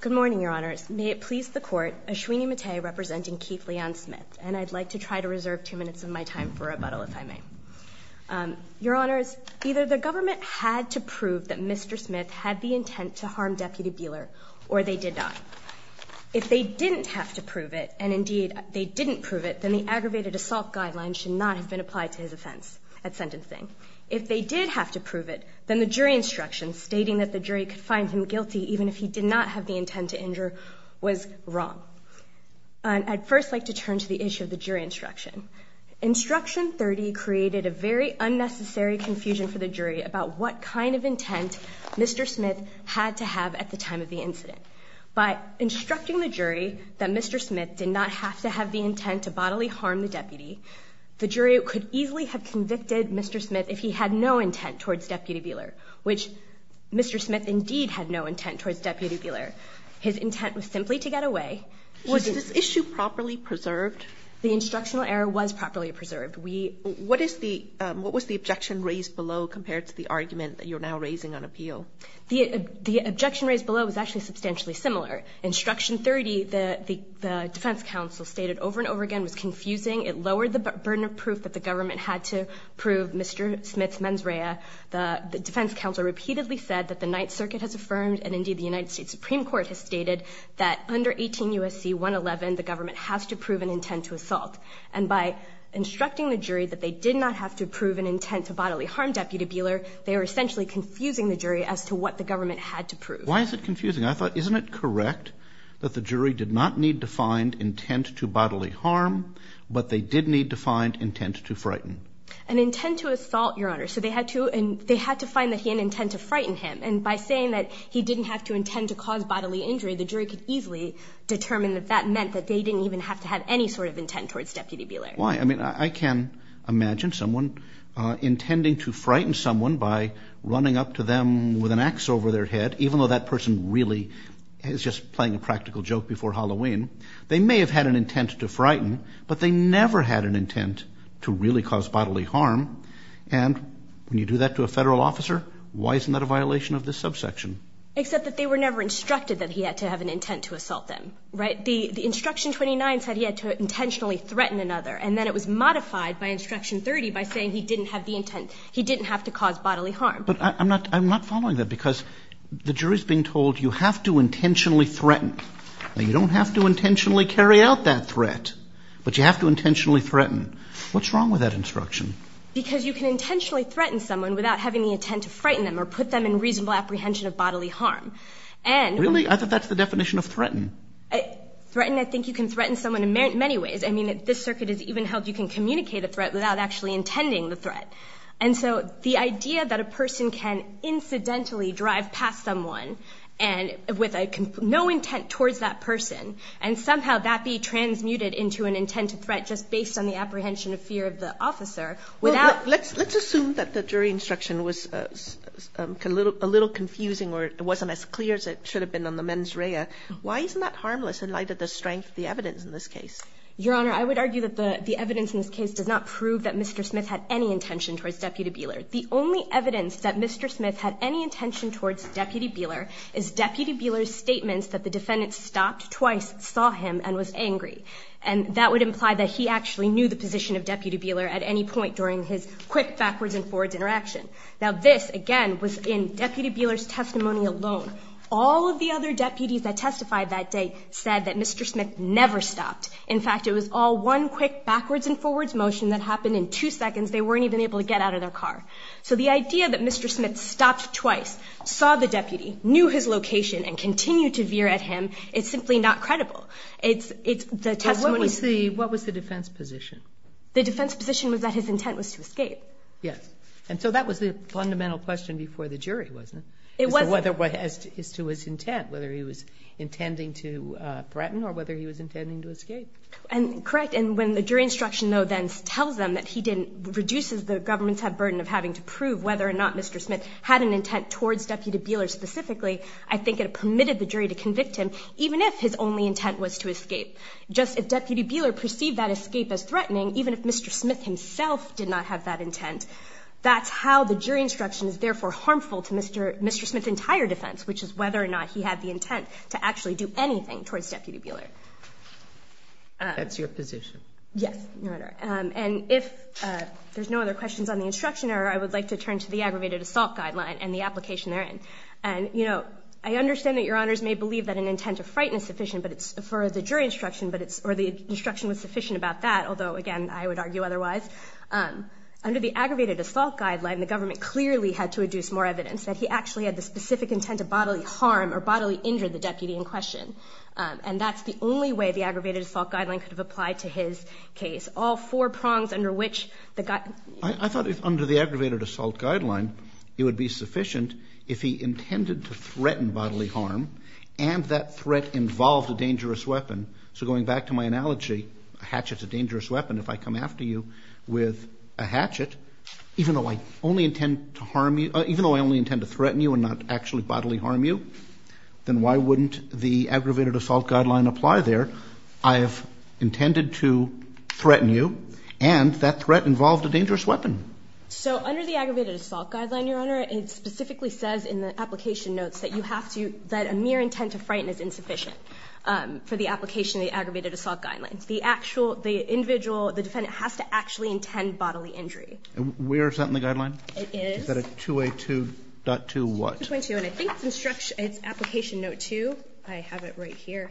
Good morning, Your Honors. May it please the Court, Ashwini Mate representing Keith Leon Smith, and I'd like to try to reserve two minutes of my time for rebuttal, if I may. Your Honors, either the government had to prove that Mr. Smith had the intent to harm Deputy Beeler, or they did not. If they didn't have to prove it, and indeed they didn't prove it, then the aggravated assault guidelines should not have been applied to his offense at sentencing. If they did have to prove it, then the jury instructions stating that the guilty, even if he did not have the intent to injure, was wrong. I'd first like to turn to the issue of the jury instruction. Instruction 30 created a very unnecessary confusion for the jury about what kind of intent Mr. Smith had to have at the time of the incident. By instructing the jury that Mr. Smith did not have to have the intent to bodily harm the deputy, the jury could easily have convicted Mr. Smith if he had no intent towards Deputy Beeler, which Mr. Smith indeed had no intent towards Deputy Beeler. His intent was simply to get away. Was this issue properly preserved? The instructional error was properly preserved. What was the objection raised below compared to the argument that you're now raising on appeal? The objection raised below was actually substantially similar. Instruction 30, the defense counsel stated over and over again was confusing. It lowered the burden of proof that the government had to prove Mr. Smith's mens rea. The defense counsel repeatedly said that the Ninth Circuit has affirmed and indeed the United States Supreme Court has stated that under 18 U.S.C. 111, the government has to prove an intent to assault. And by instructing the jury that they did not have to prove an intent to bodily harm Deputy Beeler, they were essentially confusing the jury as to what the government had to prove. Why is it confusing? I thought, isn't it correct that the jury did not need to find intent to bodily harm, but they did need to find intent to frighten? An intent to assault, Your Honor. So they had to find that he had an intent to frighten him. And by saying that he didn't have to intend to cause bodily injury, the jury could easily determine that that meant that they didn't even have to have any sort of intent towards Deputy Beeler. Why? I mean, I can imagine someone intending to frighten someone by running up to them with an ax over their head, even though that person really is just playing a practical joke before Halloween. They may have had an intent to frighten, but they never had an intent to really cause bodily harm. And when you do that to a Federal officer, why isn't that a violation of this subsection? Except that they were never instructed that he had to have an intent to assault them. Right? The Instruction 29 said he had to intentionally threaten another. And then it was modified by Instruction 30 by saying he didn't have the intent. He didn't have to cause bodily harm. But I'm not following that, because the jury is being told you have to intentionally threaten. Now, you don't have to intentionally carry out that threat, but you have to intentionally threaten. What's wrong with that instruction? Because you can intentionally threaten someone without having the intent to frighten them or put them in reasonable apprehension of bodily harm. And Really? I thought that's the definition of threaten. Threaten, I think you can threaten someone in many ways. I mean, this circuit is even held you can communicate a threat without actually intending the threat. And so the idea that a person can incidentally drive past someone and with no intent towards that person, and somehow that be transmuted into an intent to threat just based on the apprehension of fear of the officer without Let's assume that the jury instruction was a little confusing or it wasn't as clear as it should have been on the mens rea. Why isn't that harmless in light of the strength of the evidence in this case? Your Honor, I would argue that the evidence in this case does not prove that Mr. Smith had any intention towards Deputy Buehler. The only evidence that Mr. Smith had any intention towards Deputy Buehler is Deputy Buehler's statements that the defendant stopped twice, saw him, and was angry. And that would imply that he actually knew the position of Deputy Buehler at any point during his quick backwards and forwards interaction. Now this, again, was in Deputy Buehler's testimony alone. All of the other deputies that testified that day said that Mr. Smith never stopped. In fact, it was all one quick backwards and forwards motion that happened in two seconds. They weren't even able to get out of their car. So the idea that Mr. Smith stopped twice, saw the deputy, knew his location, and continued to veer at him is simply not credible. It's the testimony What was the defense position? The defense position was that his intent was to escape. Yes. And so that was the fundamental question before the jury, wasn't it? It was. As to his intent, whether he was intending to threaten or whether he was intending to escape. Correct. And when the jury instruction, though, then tells them that he didn't, reduces the government's burden of having to prove whether or not Mr. Smith had an intent towards Deputy Buehler specifically, I think it permitted the jury to convict him, even if his only intent was to escape. Just if Deputy Buehler perceived that escape as threatening, even if Mr. Smith himself did not have that intent, that's how the jury instruction is therefore harmful to Mr. Smith's entire defense, which is whether or not he had the intent to actually do anything towards Deputy Buehler. That's your position. Yes, Your Honor. And if there's no other questions on the instruction error, I would like to turn to the aggravated assault guideline and the application therein. And, you know, I understand that Your Honors may believe that an intent of fright is sufficient, but it's for the jury instruction, but it's, or the instruction was sufficient about that. Although, again, I would argue otherwise. Under the aggravated assault guideline, the government clearly had to adduce more evidence that he actually had the specific intent of the only way the aggravated assault guideline could have applied to his case. All four prongs under which the... I thought if under the aggravated assault guideline, it would be sufficient if he intended to threaten bodily harm and that threat involved a dangerous weapon. So going back to my analogy, a hatchet's a dangerous weapon. If I come after you with a hatchet, even though I only intend to harm you, even though I only intend to threaten you and not actually bodily harm you, then why wouldn't the aggravated assault guideline apply there? I have intended to threaten you and that threat involved a dangerous weapon. So under the aggravated assault guideline, Your Honor, it specifically says in the application notes that you have to, that a mere intent of fright is insufficient for the application of the aggravated assault guidelines. The actual, the individual, the defendant has to actually intend bodily injury. Where is that in the guideline? It is... Is that a 2A2.2 what? 2A2.2 and I think it's instruction, it's application note two. I have it right here.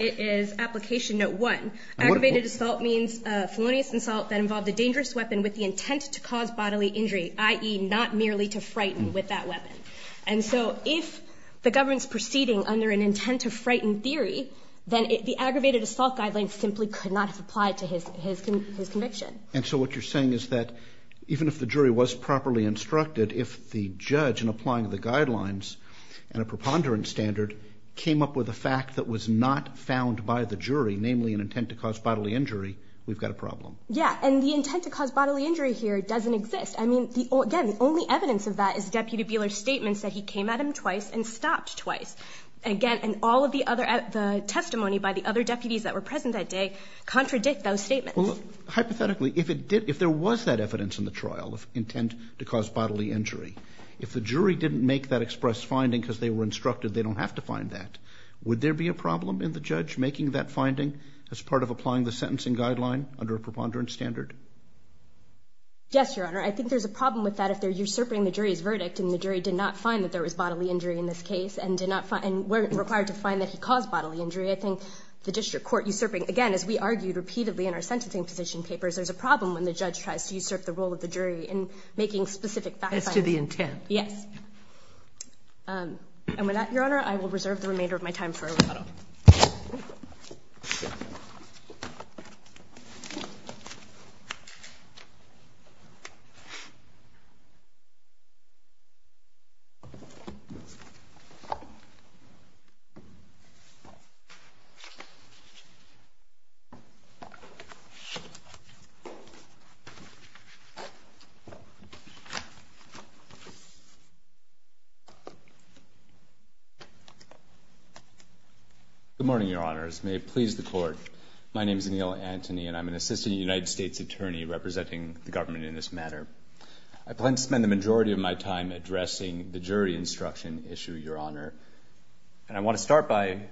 It is application note one. Aggravated assault means a felonious insult that involved a dangerous weapon with the intent to cause bodily injury, i.e. not merely to frighten with that weapon. And so if the government's proceeding under an intent to frighten theory, then the aggravated assault guideline simply could not have applied to his conviction. And so what you're saying is that even if the jury was properly instructed, if the judge in applying the guidelines and a preponderance standard came up with a fact that was not found by the jury, namely an intent to cause bodily injury, we've got a problem. Yeah, and the intent to cause bodily injury here doesn't exist. I mean, again, the only evidence of that is Deputy Buehler's statements that he came at him twice and stopped twice. Again, and all of the other, the testimony by the other deputies that were present that day contradict those statements. Well, hypothetically, if it did, if there was that evidence in the trial of intent to cause bodily injury, if the jury didn't make that express finding because they were instructed they don't have to find that, would there be a problem in the judge making that finding as part of applying the sentencing guideline under a preponderance standard? Yes, Your Honor. I think there's a problem with that if they're usurping the jury's verdict and the jury did not find that there was bodily injury in this case and were required to find that he caused bodily injury, I think the district court usurping again, as we argued repeatedly in our sentencing petition papers, there's a problem when the judge tries to usurp the role of the jury in making specific fact findings. As to the intent. Yes. And with that, Your Honor, I will reserve the remainder of my time for a rebuttal. Thank you, Your Honor. Good morning, Your Honors. May it please the Court. My name is Neil Antony and I'm an assistant United States attorney representing the government in this matter. I plan to spend the majority of my time addressing the jury instruction issue, Your Honor. And I want to start by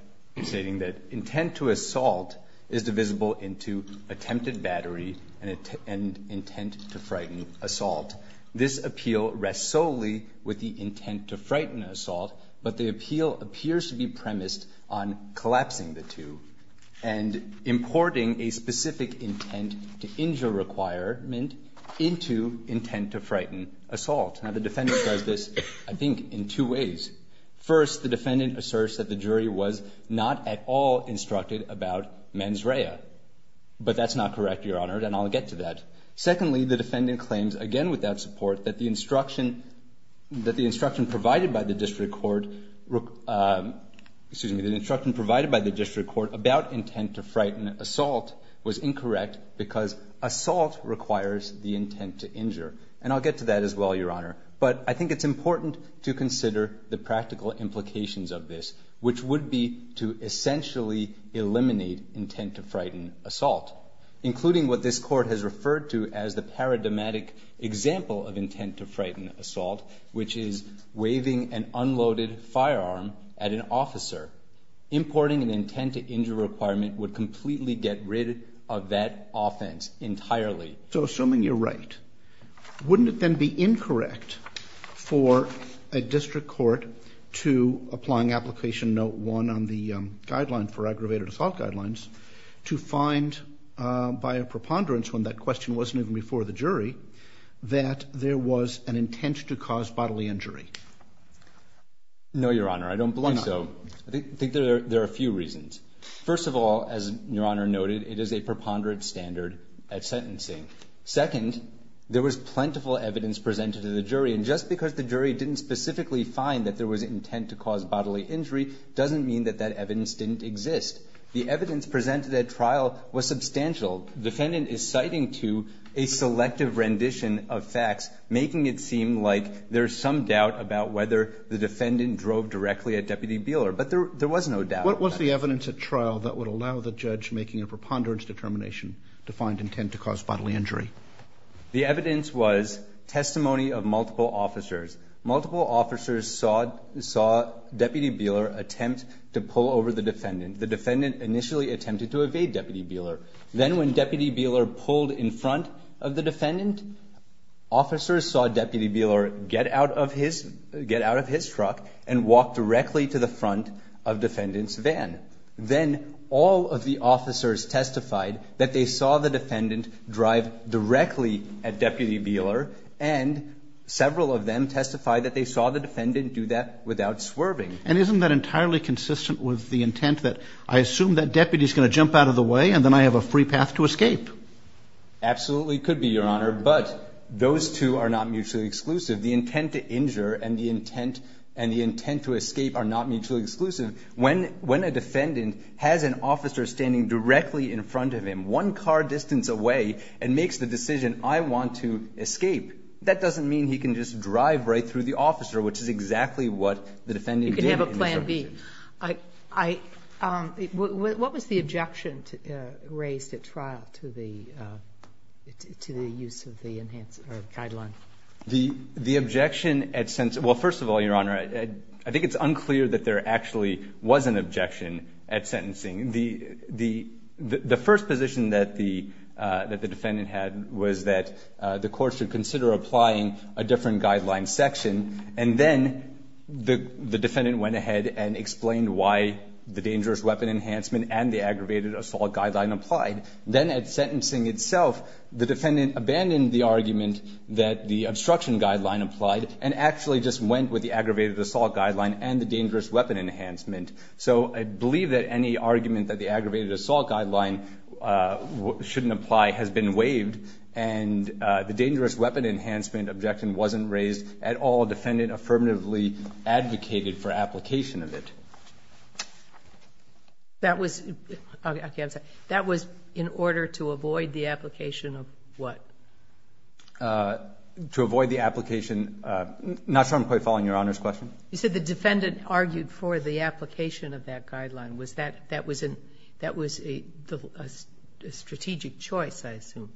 stating that intent to assault is divisible into attempted battery and intent to frighten assault. This appeal rests solely with the defendant collapsing the two and importing a specific intent to injure requirement into intent to frighten assault. Now, the defendant does this, I think, in two ways. First, the defendant asserts that the jury was not at all instructed about mens rea. But that's not correct, Your Honor, and I'll get to that. Secondly, the defendant claims, again without support, that the instruction provided by the district court about intent to frighten assault was incorrect because assault requires the intent to injure. And I'll get to that as well, Your Honor. But I think it's important to consider the practical implications of this, which would be to essentially eliminate intent to frighten assault, including what this court has referred to as the paradigmatic example of intent to frighten assault, which is waving an unloaded officer. Importing an intent to injure requirement would completely get rid of that offense entirely. So assuming you're right, wouldn't it then be incorrect for a district court to applying application note one on the guideline for aggravated assault guidelines to find by a preponderance, when that question wasn't even before the jury, that there was an intent to cause bodily injury? No, Your Honor. I don't believe so. I think there are a few reasons. First of all, as Your Honor noted, it is a preponderance standard at sentencing. Second, there was plentiful evidence presented to the jury. And just because the jury didn't specifically find that there was intent to cause bodily injury doesn't mean that that evidence didn't exist. The evidence presented at trial was substantial. The defendant is citing to a selective rendition of facts, making it seem like there's some doubt about whether the defendant drove directly at Deputy Beeler. But there was no doubt. What was the evidence at trial that would allow the judge making a preponderance determination to find intent to cause bodily injury? The evidence was testimony of multiple officers. Multiple officers saw Deputy Beeler attempt to pull over the defendant. The defendant initially attempted to evade Deputy Beeler. Then when Deputy Beeler pulled in front of the defendant, officers saw Deputy Beeler get out of his truck and walk directly to the front of defendant's van. Then all of the officers testified that they saw the defendant drive directly at Deputy Beeler, and several of them testified that they saw the defendant do that without swerving. And isn't that entirely consistent with the intent that I assume that deputy is going to jump out of the way and then I have a free path to escape? Absolutely could be, Your Honor. But those two are not mutually exclusive. The intent to injure and the intent to escape are not mutually exclusive. When a defendant has an officer standing directly in front of him one car distance away and makes the decision, I want to escape, that doesn't mean he can just drive right through the officer, which is exactly what the defendant did. You can have a plan B. What was the objection raised at trial to the use of the enhanced or guideline? The objection at sentence – well, first of all, Your Honor, I think it's unclear that there actually was an objection at sentencing. The first position that the defendant had was that the courts should consider applying a different guideline section, and then the defendant went ahead and explained why the dangerous weapon enhancement and the aggravated assault guideline applied. Then at sentencing itself, the defendant abandoned the argument that the obstruction guideline applied and actually just went with the aggravated assault guideline and the dangerous weapon enhancement. So I believe that any argument that the aggravated assault guideline shouldn't apply has been waived. And the dangerous weapon enhancement objection wasn't raised at all. The defendant affirmatively advocated for application of it. That was – okay, I'm sorry. That was in order to avoid the application of what? To avoid the application – I'm not sure I'm quite following Your Honor's question. You said the defendant argued for the application of that guideline. Was that – that was a strategic choice, I assume.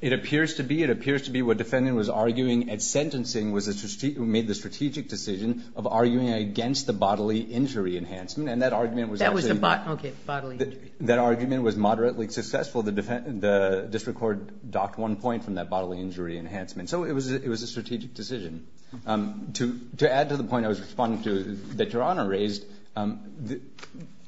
It appears to be. It appears to be what defendant was arguing at sentencing was a – made the strategic decision of arguing against the bodily injury enhancement, and that argument was actually – That was the – okay, bodily injury. That argument was moderately successful. The district court docked one point from that bodily injury enhancement. So it was a strategic decision. To add to the point I was responding to that Your Honor raised,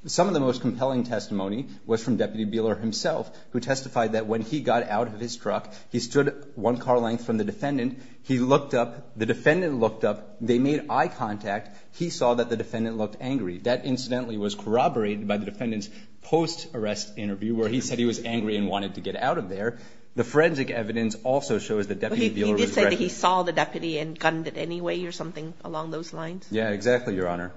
some of the most compelling testimony was from Deputy Beeler himself, who testified that when he got out of his truck, he stood one car length from the defendant. He looked up. The defendant looked up. They made eye contact. He saw that the defendant looked angry. That incidentally was corroborated by the defendant's post-arrest interview where he said he was angry and wanted to get out of there. The forensic evidence also shows that Deputy Beeler was – He did say that he saw the deputy and gunned it anyway or something along those lines. Yeah, exactly, Your Honor.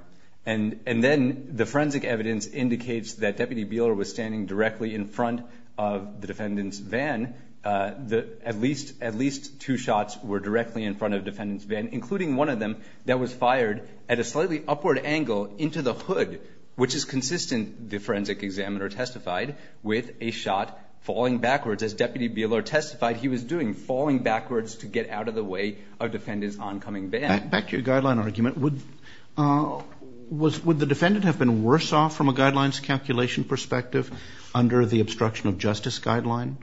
And then the forensic evidence indicates that Deputy Beeler was standing directly in front of the defendant's van. At least two shots were directly in front of the defendant's van, including one of them, that was fired at a slightly upward angle into the hood, which is consistent, the forensic examiner testified, with a shot falling backwards, as Deputy Beeler testified he was doing, falling backwards to get out of the way of the defendant's oncoming van. Back to your guideline argument. Would the defendant have been worse off from a guidelines calculation perspective under the obstruction of justice guideline?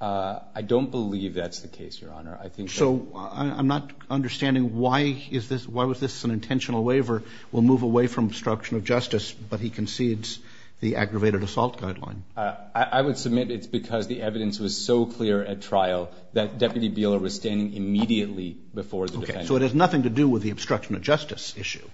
I don't believe that's the case, Your Honor. I think that – So I'm not understanding why is this – why was this an intentional waiver? We'll move away from obstruction of justice, but he concedes the aggravated assault guideline. I would submit it's because the evidence was so clear at trial that Deputy Beeler was standing immediately before the defendant. Okay. So it has nothing to do with the obstruction of justice issue.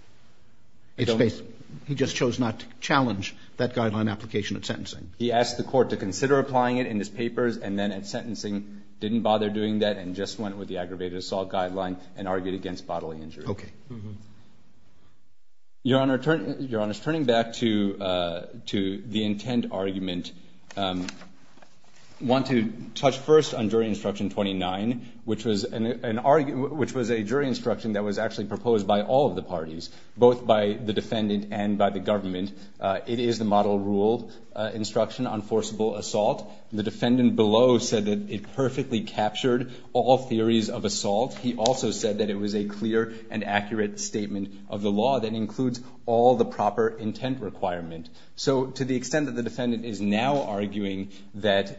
I don't – He just chose not to challenge that guideline application at sentencing. He asked the Court to consider applying it in his papers and then at sentencing didn't bother doing that and just went with the aggravated assault guideline and argued against bodily injury. Okay. Your Honor, turning back to the intent argument, I want to touch first on jury instruction 29, which was an – which was a jury instruction that was actually proposed by all of the parties, both by the defendant and by the government. It is the model rule instruction on forcible assault. The defendant below said that it perfectly captured all theories of assault. He also said that it was a clear and accurate statement of the law that includes all the proper intent requirement. So to the extent that the defendant is now arguing that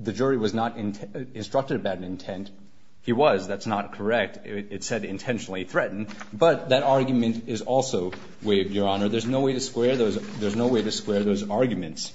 the jury was not instructed about intent, he was. That's not correct. It said intentionally threatened. But that argument is also waived, Your Honor. There's no way to square those – there's no way to square those arguments.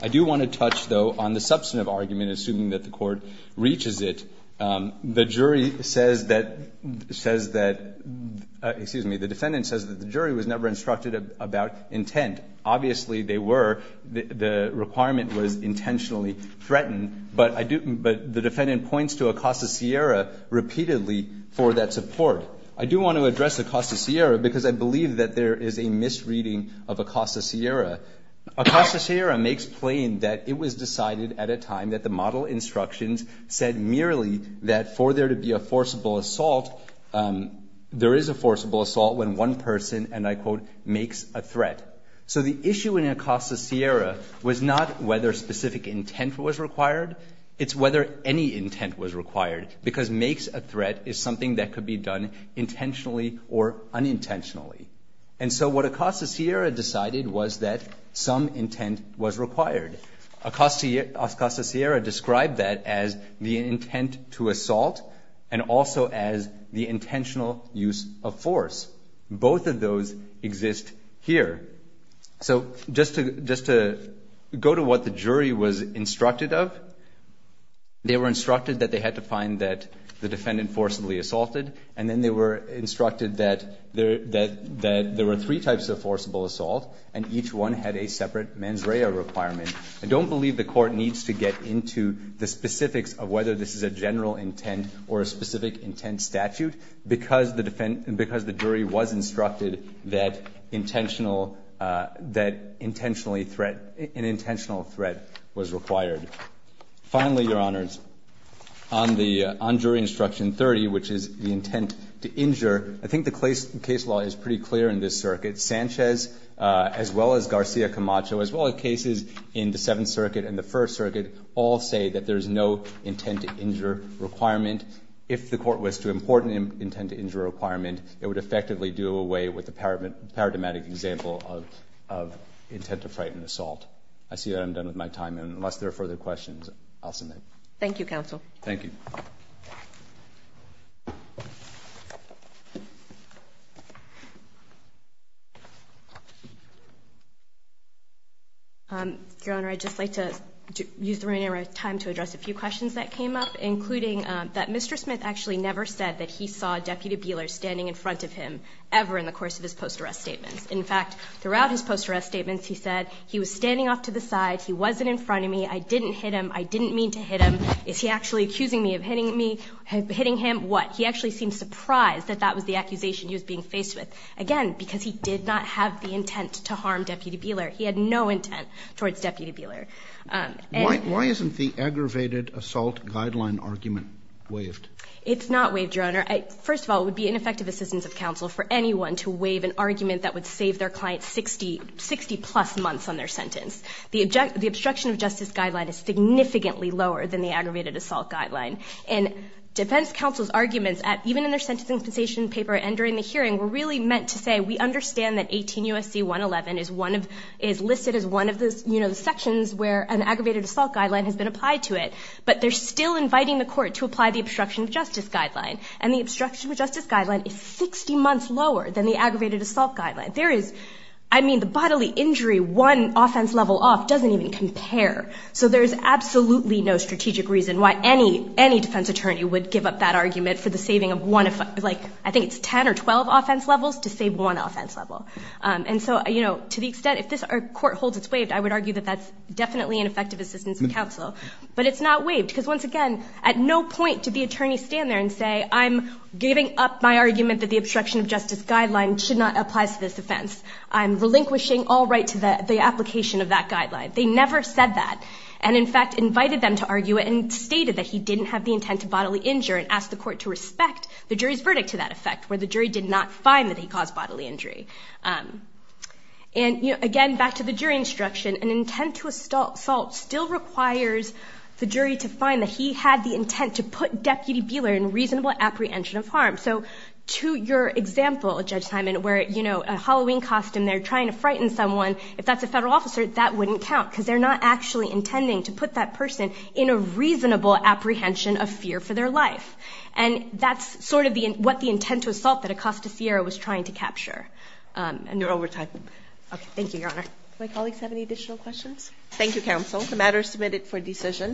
I do want to touch, though, on the substantive argument, assuming that the Court reaches it. The jury says that – says that – excuse me. The defendant says that the jury was never instructed about intent. Obviously, they were. The requirement was intentionally threatened. But I do – but the defendant points to Acosta Sierra repeatedly for that support. I do want to address Acosta Sierra because I believe that there is a misreading of Acosta Sierra. Acosta Sierra makes plain that it was decided at a time that the model instructions said merely that for there to be a forcible assault, there is a forcible assault when one person, and I quote, makes a threat. So the issue in Acosta Sierra was not whether specific intent was required. It's whether any intent was required because makes a threat is something that could be done intentionally or unintentionally. And so what Acosta Sierra decided was that some intent was required. Acosta Sierra described that as the intent to assault and also as the intentional use of force. Both of those exist here. So just to go to what the jury was instructed of, they were instructed that they had to find that the defendant forcibly assaulted. And then they were instructed that there were three types of forcible assault, and each one had a separate mens rea requirement. I don't believe the court needs to get into the specifics of whether this is a general intent or a specific intent statute because the jury was instructed that an intentional threat was required. Finally, Your Honors, on jury instruction 30, which is the intent to injure, I think the case law is pretty clear in this circuit. Sanchez, as well as Garcia Camacho, as well as cases in the Seventh Circuit and the intent to injure requirement, if the court was to import an intent to injure requirement, it would effectively do away with the paradigmatic example of intent to frighten assault. I see that I'm done with my time. Unless there are further questions, I'll submit. Thank you, Counsel. Thank you. Your Honor, I'd just like to use the remaining time to address a few questions that came up, including that Mr. Smith actually never said that he saw Deputy Beeler standing in front of him ever in the course of his post-arrest statements. In fact, throughout his post-arrest statements, he said he was standing off to the side, he wasn't in front of me, I didn't hit him, I didn't mean to hit him. Is he actually accusing me of hitting him? What? He actually seemed surprised that that was the accusation he was being faced with. Again, because he did not have the intent to harm Deputy Beeler. He had no intent towards Deputy Beeler. Why isn't the aggravated assault guideline argument waived? It's not waived, Your Honor. First of all, it would be ineffective assistance of counsel for anyone to waive an argument that would save their client 60-plus months on their sentence. The obstruction of justice guideline is significantly lower than the aggravated assault guideline. And defense counsel's arguments, even in their sentencing compensation paper and during the hearing, were really meant to say we understand that 18 U.S.C. 111 is listed as one of the sections where an aggravated assault guideline has been applied to it. But they're still inviting the court to apply the obstruction of justice guideline. And the obstruction of justice guideline is 60 months lower than the aggravated assault guideline. There is, I mean, the bodily injury, one offense level off doesn't even compare. So there's absolutely no strategic reason why any defense attorney would give up that argument for the saving of one, like I think it's 10 or 12 offense levels to save one offense level. And so, you know, to the extent if this court holds it's waived, I would argue that that's definitely ineffective assistance of counsel. But it's not waived. Because once again, at no point did the attorney stand there and say I'm giving up my argument that the obstruction of justice guideline should not apply to this offense. I'm relinquishing all right to the application of that guideline. They never said that. And in fact, invited them to argue it and stated that he didn't have the intent to bodily injure and asked the court to respect the jury's verdict to that effect where the jury did not find that he caused bodily injury. And, you know, again, back to the jury instruction, an intent to assault still requires the jury to find that he had the intent to put Deputy Beeler in reasonable apprehension of harm. So to your example, Judge Simon, where, you know, a Halloween costume, they're trying to frighten someone, if that's a federal officer, that wouldn't count because they're not actually intending to put that person in a reasonable apprehension of fear for their life. And that's sort of what the intent to assault that Acosta Sierra was trying to capture. And you're over time. Okay. Thank you, Your Honor. My colleagues have any additional questions? Thank you, counsel. The matter is submitted for decision.